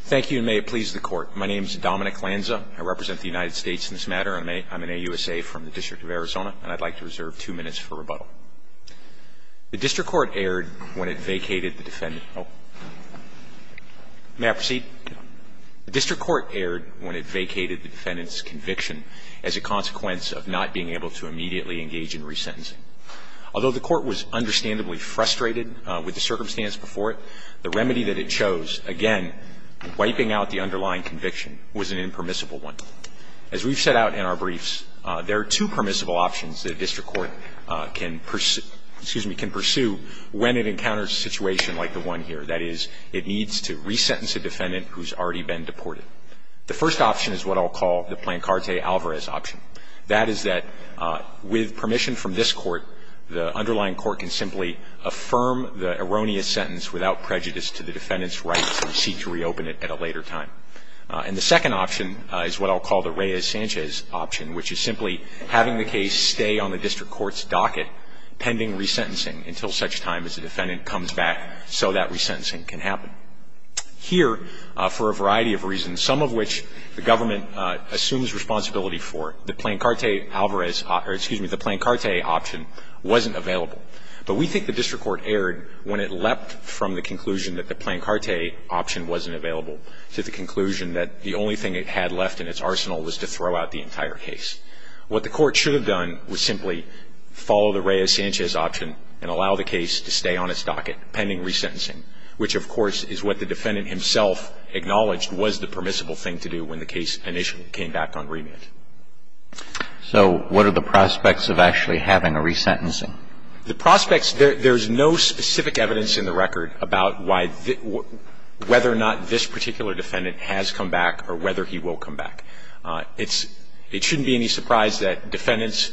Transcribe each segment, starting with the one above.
Thank you, and may it please the Court. My name is Dominic Lanza. I represent the United States in this matter. I'm an AUSA from the District of Arizona, and I'd like to reserve two minutes for rebuttal. The District Court erred when it vacated the defendant's conviction as a consequence of not being able to immediately engage in resentencing. Although the Court was understandably frustrated with the circumstance before it, the remedy that it chose, again, wiping out the underlying conviction, was an impermissible one. As we've set out in our briefs, there are two permissible options that a district court can pursue when it encounters a situation like the one here. That is, it needs to resentence a defendant who's already been deported. The first option is what I'll call the Plancarte Alvarez option. That is that with permission from this Court, the underlying court can simply affirm the erroneous sentence without prejudice to the defendant's rights and seek to reopen it at a later time. And the second option is what I'll call the Reyes-Sanchez option, which is simply having the case stay on the district court's docket pending resentencing until such time as the defendant comes back so that resentencing can happen. Here, for a variety of reasons, some of which the government assumes responsibility for, the Plancarte Alvarez or, excuse me, the Plancarte option wasn't available. But we think the district court erred when it leapt from the conclusion that the Plancarte option wasn't available to the conclusion that the only thing it had left in its arsenal was to throw out the entire case. What the court should have done was simply follow the Reyes-Sanchez option and allow the case to stay on its docket pending resentencing, which, of course, is what the defendant himself acknowledged was the permissible thing to do when the case initially came back on remand. So what are the prospects of actually having a resentencing? The prospects – there's no specific evidence in the record about why – whether or not this particular defendant has come back or whether he will come back. It's – it shouldn't be any surprise that defendants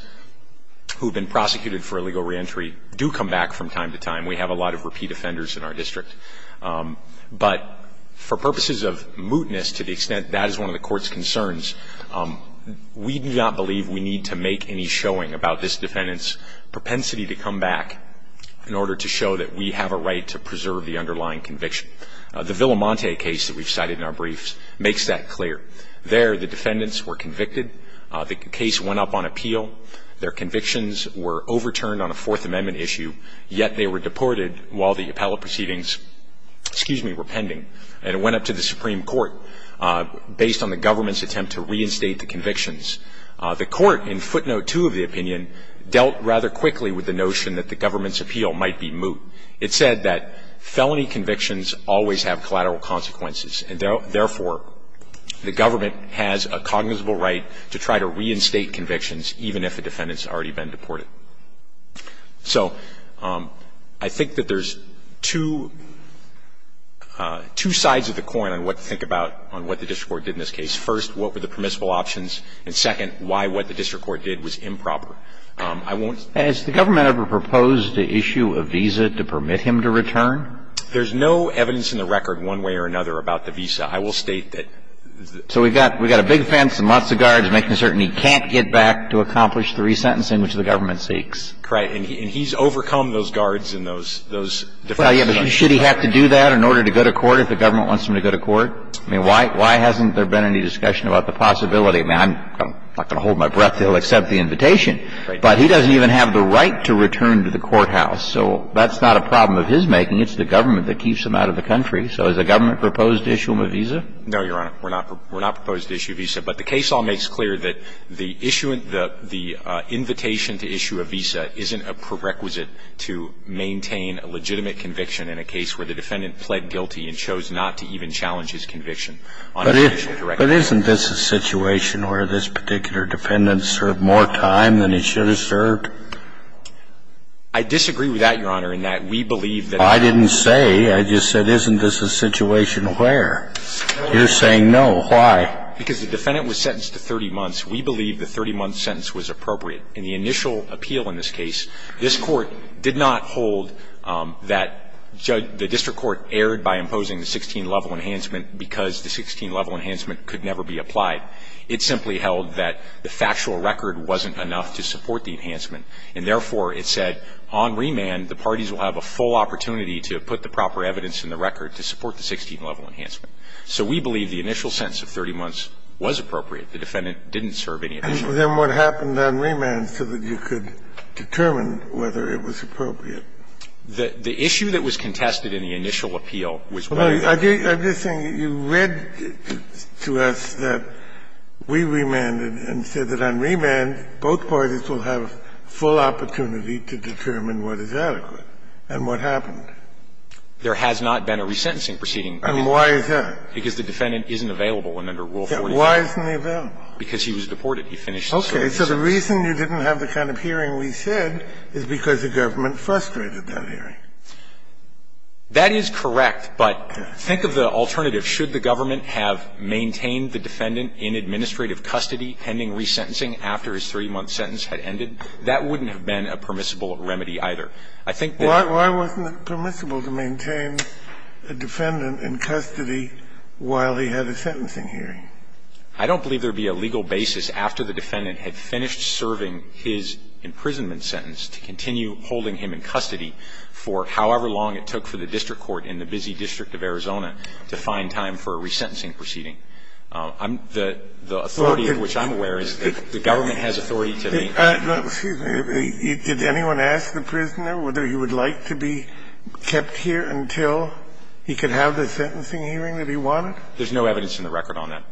who have been prosecuted for illegal reentry do come back from time to time. We have a lot of repeat offenders in our district. But for purposes of mootness to the extent that is one of the court's concerns, we do not believe we need to make any showing about this defendant's propensity to come back in order to show that we have a right to preserve the underlying conviction. The Villamonte case that we've cited in our briefs makes that clear. There, the defendants were convicted. The case went up on appeal. Their convictions were overturned on a Fourth Amendment issue, yet they were deported while the appellate proceedings, excuse me, were pending. And it went up to the Supreme Court based on the government's attempt to reinstate the convictions. The court, in footnote 2 of the opinion, dealt rather quickly with the notion that the government's appeal might be moot. It said that felony convictions always have collateral consequences, and therefore the government has a cognizable right to try to reinstate convictions even if a defendant has already been deported. So I think that there's two sides of the coin on what to think about on what the district court did in this case. First, what were the permissible options? And, second, why what the district court did was improper. I won't ---- Has the government ever proposed to issue a visa to permit him to return? There's no evidence in the record one way or another about the visa. I will state that the ---- So we've got a big fence and lots of guards making certain he can't get back to accomplish the resentencing which the government seeks. Right. And he's overcome those guards and those ---- Well, yeah, but should he have to do that in order to go to court if the government wants him to go to court? I mean, why hasn't there been any discussion about the possibility? I mean, I'm not going to hold my breath until they accept the invitation. Right. But he doesn't even have the right to return to the courthouse. So that's not a problem of his making. It's the government that keeps him out of the country. So has the government proposed to issue him a visa? No, Your Honor. We're not ---- we're not proposed to issue a visa. But the case all makes clear that the issue of the ---- the invitation to issue a visa isn't a prerequisite to maintain a legitimate conviction in a case where the defendant pled guilty and chose not to even challenge his conviction on an official direction. But isn't this a situation where this particular defendant served more time than he should have served? I disagree with that, Your Honor, in that we believe that ---- I didn't say. I just said, isn't this a situation where? You're saying no. Why? Because the defendant was sentenced to 30 months. We believe the 30-month sentence was appropriate. In the initial appeal in this case, this Court did not hold that the district court erred by imposing the 16-level enhancement because the 16-level enhancement could never be applied. It simply held that the factual record wasn't enough to support the enhancement. And therefore, it said, on remand, the parties will have a full opportunity to put the proper evidence in the record to support the 16-level enhancement. So we believe the initial sentence of 30 months was appropriate. The defendant didn't serve any additional time. And then what happened on remand so that you could determine whether it was appropriate? The issue that was contested in the initial appeal was whether it was appropriate. I'm just saying you read to us that we remanded and said that on remand, both parties will have full opportunity to determine what is adequate, and what happened. There has not been a resentencing proceeding. And why is that? Because the defendant isn't available under Rule 45. Why isn't he available? Because he was deported. He finished the service. Okay. So the reason you didn't have the kind of hearing we said is because the government frustrated that hearing. That is correct. But think of the alternative. Should the government have maintained the defendant in administrative custody pending resentencing after his 30-month sentence had ended? That wouldn't have been a permissible remedy either. Why wasn't it permissible to maintain a defendant in custody while he had a sentencing hearing? I don't believe there would be a legal basis after the defendant had finished serving his imprisonment sentence to continue holding him in custody for however long it took for the district court in the busy district of Arizona to find time for a resentencing proceeding. The authority of which I'm aware is that the government has authority to maintain it. I don't believe it would have been permissible to maintain a defendant in custody while he had a sentencing hearing. Did anyone ask the prisoner whether he would like to be kept here until he could have the sentencing hearing that he wanted? There's no evidence in the record on that.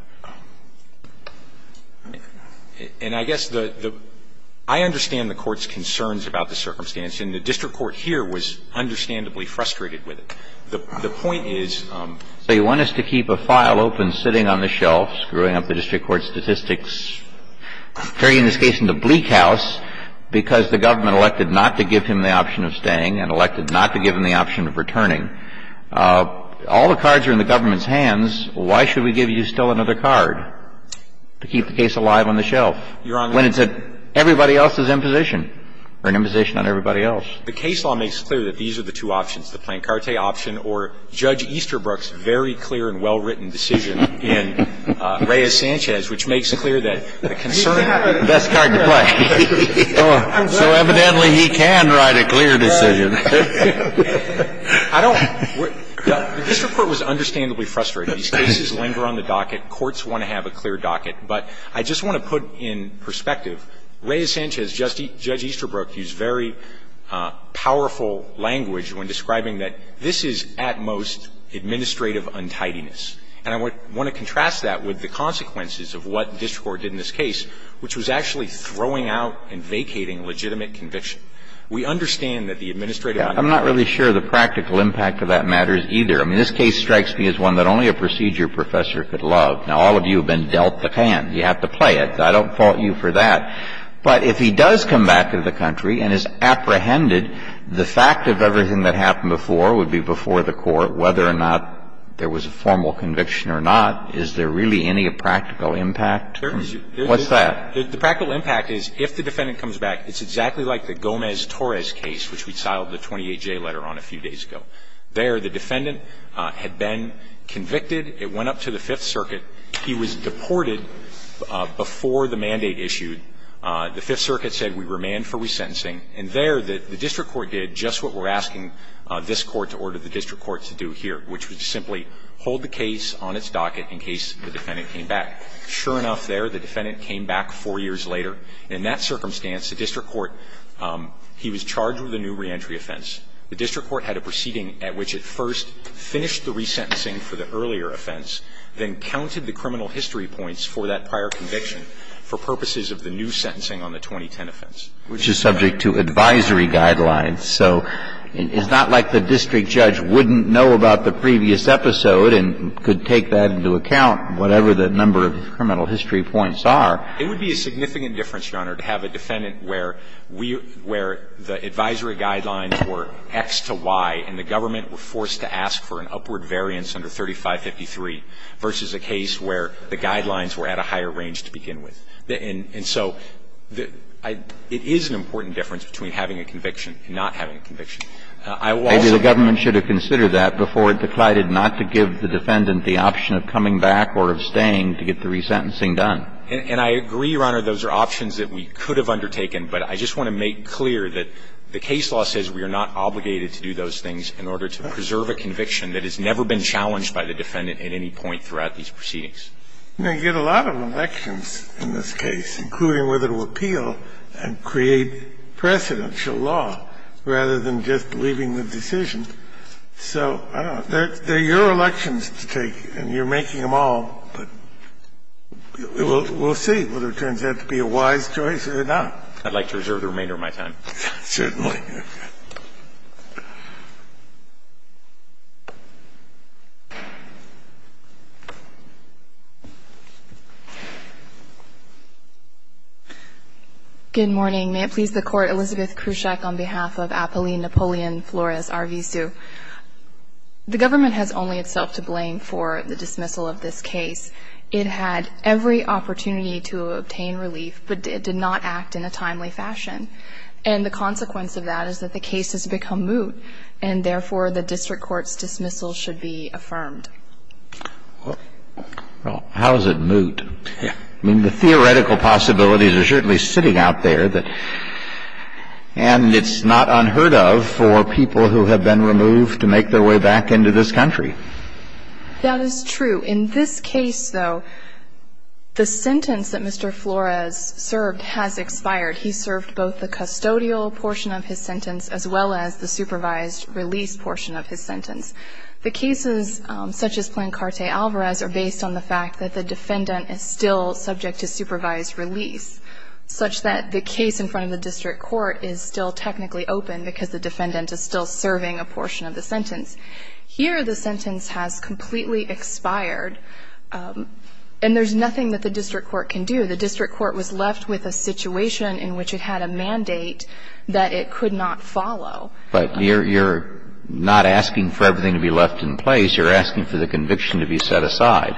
And I guess the – I understand the Court's concerns about the circumstance, and the district court here was understandably frustrated with it. The point is – So you want us to keep a file open sitting on the shelf, screwing up the district court statistics, turning this case into bleak house because the government elected not to give him the option of staying and elected not to give him the option of returning. All the cards are in the government's hands. Why should we give you still another card to keep the case alive on the shelf when it's at everybody else's imposition, or an imposition on everybody else? The case law makes clear that these are the two options, the Plancarte option or Judge Easterbrook's very clear and well-written decision in Reyes-Sanchez, which makes clear that the concern – He can have the best card to play. So evidently he can write a clear decision. I don't – the district court was understandably frustrated. These cases linger on the docket. Courts want to have a clear docket. But I just want to put in perspective, Reyes-Sanchez, Judge Easterbrook used very powerful language when describing that this is at most administrative untidiness. And I want to contrast that with the consequences of what district court did in this case, which was actually throwing out and vacating legitimate conviction. We understand that the administrative untidiness – I'm not really sure the practical impact of that matter is either. I mean, this case strikes me as one that only a procedure professor could love. Now, all of you have been dealt the hand. You have to play it. I don't fault you for that. But if he does come back to the country and is apprehended, the fact of everything that happened before would be before the court, whether or not there was a formal conviction or not, is there really any practical impact? What's that? The practical impact is if the defendant comes back, it's exactly like the Gomez-Torres case, which we filed the 28-J letter on a few days ago. There the defendant had been convicted. It went up to the Fifth Circuit. He was deported before the mandate issued. The Fifth Circuit said we remand for resentencing. And there the district court did just what we're asking this Court to order the district court to do here, which was simply hold the case on its docket in case the defendant came back. Sure enough, there the defendant came back four years later. In that circumstance, the district court, he was charged with a new reentry offense. The district court had a proceeding at which it first finished the resentencing for the earlier offense, then counted the criminal history points for that prior conviction for purposes of the new sentencing on the 2010 offense. Kennedy, which is subject to advisory guidelines. So it's not like the district judge wouldn't know about the previous episode and could take that into account, whatever the number of criminal history points are. It would be a significant difference, Your Honor, to have a defendant where we were the advisory guidelines were X to Y and the government were forced to ask for an upward variance under 3553, versus a case where the guidelines were at a higher range to begin with. And so it is an important difference between having a conviction and not having a conviction. I will also say that the government should have considered that before it declined not to give the defendant the option of coming back or of staying to get the resentencing done. And I agree, Your Honor, those are options that we could have undertaken, but I just want to make clear that the case law says we are not obligated to do those things in order to preserve a conviction that has never been challenged by the defendant at any point throughout these proceedings. Kennedy, you know, you get a lot of elections in this case, including whether to appeal and create precedential law rather than just leaving the decision. So I don't know. They're your elections to take and you're making them all, but we'll see whether it turns out to be a wise choice or not. I'd like to reserve the remainder of my time. Certainly. Thank you, Your Honor. Good morning. May it please the Court. Elizabeth Krushak on behalf of Apolline Napoleon Flores, RVSU. The government has only itself to blame for the dismissal of this case. It had every opportunity to obtain relief, but it did not act in a timely fashion. And the consequence of that is that the case has become moot, and therefore the district court's dismissal should be affirmed. Well, how is it moot? I mean, the theoretical possibilities are certainly sitting out there, and it's not unheard of for people who have been removed to make their way back into this country. That is true. In this case, though, the sentence that Mr. Flores served has expired. He served both the custodial portion of his sentence as well as the supervised release portion of his sentence. The cases such as Plancarte Alvarez are based on the fact that the defendant is still subject to supervised release, such that the case in front of the district court is still technically open because the defendant is still serving a portion of the sentence. Here the sentence has completely expired, and there's nothing that the district court can do. So the district court was left with a situation in which it had a mandate that it could not follow. But you're not asking for everything to be left in place. You're asking for the conviction to be set aside.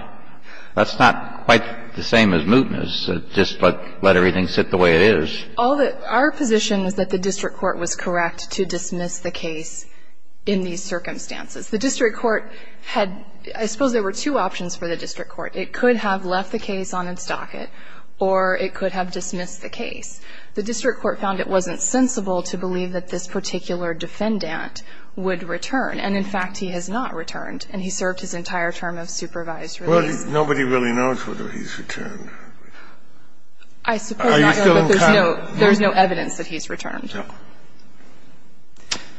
That's not quite the same as mootness, just let everything sit the way it is. Our position is that the district court was correct to dismiss the case in these circumstances. The district court had – I suppose there were two options for the district court. It could have left the case on its docket, or it could have dismissed the case. The district court found it wasn't sensible to believe that this particular defendant would return. And, in fact, he has not returned, and he served his entire term of supervised release. Kennedy, nobody really knows whether he's returned. I suppose not, but there's no evidence that he's returned.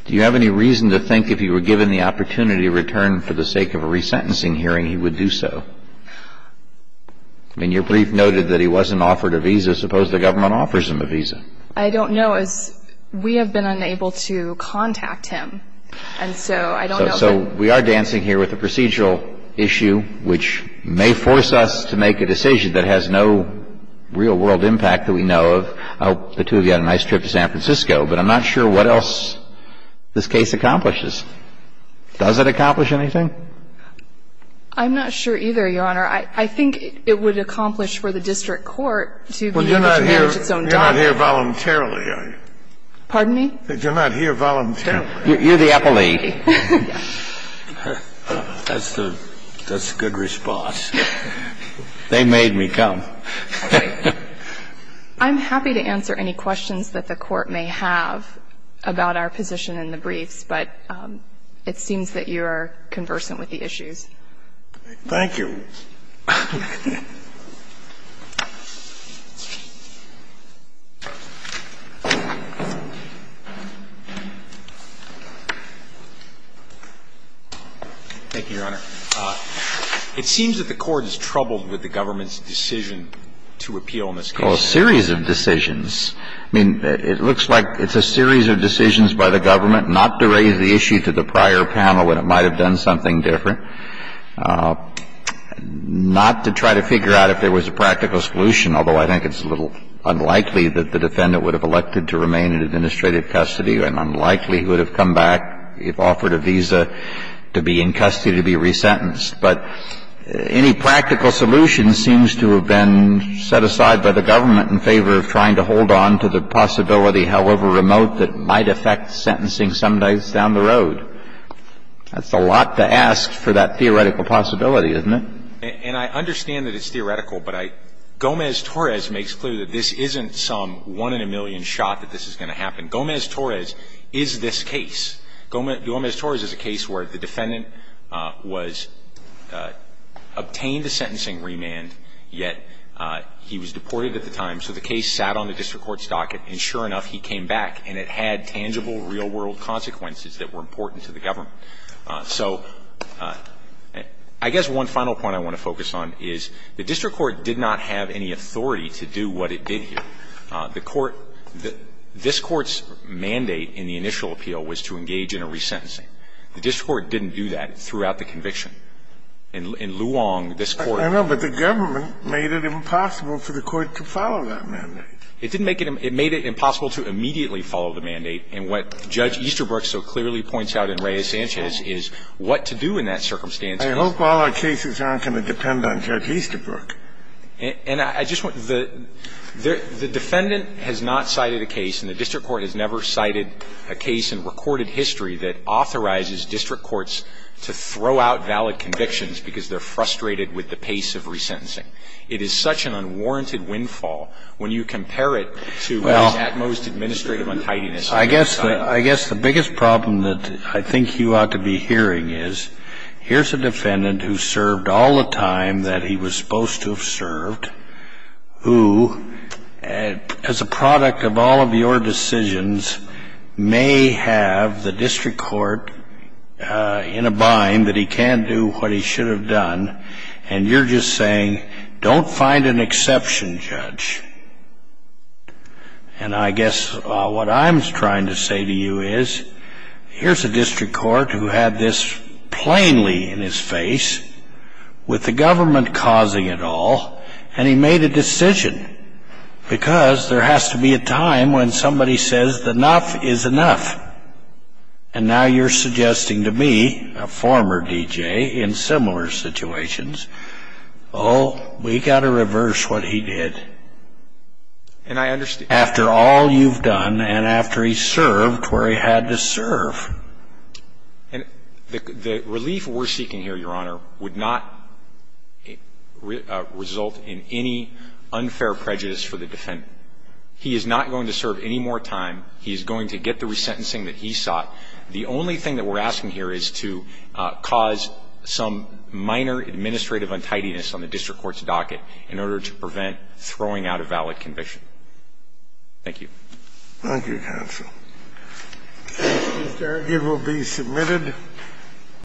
Do you have any reason to think if he were given the opportunity to return for the sake of a resentencing hearing, he would do so? I mean, your brief noted that he wasn't offered a visa. Suppose the government offers him a visa. I don't know. We have been unable to contact him, and so I don't know. So we are dancing here with a procedural issue which may force us to make a decision that has no real-world impact that we know of. I hope the two of you had a nice trip to San Francisco, but I'm not sure what else this case accomplishes. Does it accomplish anything? I'm not sure either, Your Honor. I think it would accomplish for the district court to be able to manage its own documents. Well, you're not here voluntarily, are you? Pardon me? You're not here voluntarily. You're the appellee. Yes. That's a good response. They made me come. I'm happy to answer any questions that the Court may have about our position in the briefs, but it seems that you are conversant with the issues. Thank you. Thank you, Your Honor. It seems that the Court is troubled with the government's decision to appeal in this case. Well, a series of decisions. I mean, it looks like it's a series of decisions by the government not to raise the issue to the prior panel when it might have done something different, not to try to figure out if there was a practical solution, although I think it's a little unlikely that the defendant would have elected to remain in administrative custody, and unlikely he would have come back if offered a visa to be in custody to be resentenced. But any practical solution seems to have been set aside by the government in favor of trying to hold on to the possibility, however remote, that might affect sentencing some days down the road. That's a lot to ask for that theoretical possibility, isn't it? And I understand that it's theoretical, but Gomez-Torres makes clear that this isn't some one-in-a-million shot that this is going to happen. Gomez-Torres is this case. Gomez-Torres is a case where the defendant was obtained a sentencing remand, yet he was deported at the time, so the case sat on the district court's docket, and sure enough, he came back, and it had tangible, real-world consequences that were important to the government. So I guess one final point I want to focus on is the district court did not have any authority to do what it did here. The court – this Court's mandate in the initial appeal was to engage in a resentencing. The district court didn't do that throughout the conviction. In Luong, this Court – I know, but the government made it impossible for the Court to follow that mandate. It didn't make it – it made it impossible to immediately follow the mandate. And what Judge Easterbrook so clearly points out in Reyes-Sanchez is what to do in that circumstance. I hope all our cases aren't going to depend on Judge Easterbrook. And I just want the – the defendant has not cited a case, and the district court has never cited a case in recorded history that authorizes district courts to throw out valid convictions because they're frustrated with the pace of resentencing. It is such an unwarranted windfall when you compare it to the utmost administrative untidiness. I guess the biggest problem that I think you ought to be hearing is, here's a defendant who served all the time that he was supposed to have served, who, as a product of all of your decisions, may have the district court in a bind that he can't do what he should have done, and you're just saying, don't find an exception, Judge. And I guess what I'm trying to say to you is, here's a district court who had this case with the government causing it all, and he made a decision because there has to be a time when somebody says enough is enough. And now you're suggesting to me, a former D.J., in similar situations, oh, we've got to reverse what he did. And I understand. After all you've done and after he served where he had to serve. And the relief we're seeking here, Your Honor, would not result in any unfair prejudice for the defendant. He is not going to serve any more time. He is going to get the resentencing that he sought. The only thing that we're asking here is to cause some minor administrative untidiness on the district court's docket in order to prevent throwing out a valid conviction. Thank you. Thank you, counsel. Thank you, Mr. Argyle. It will be submitted.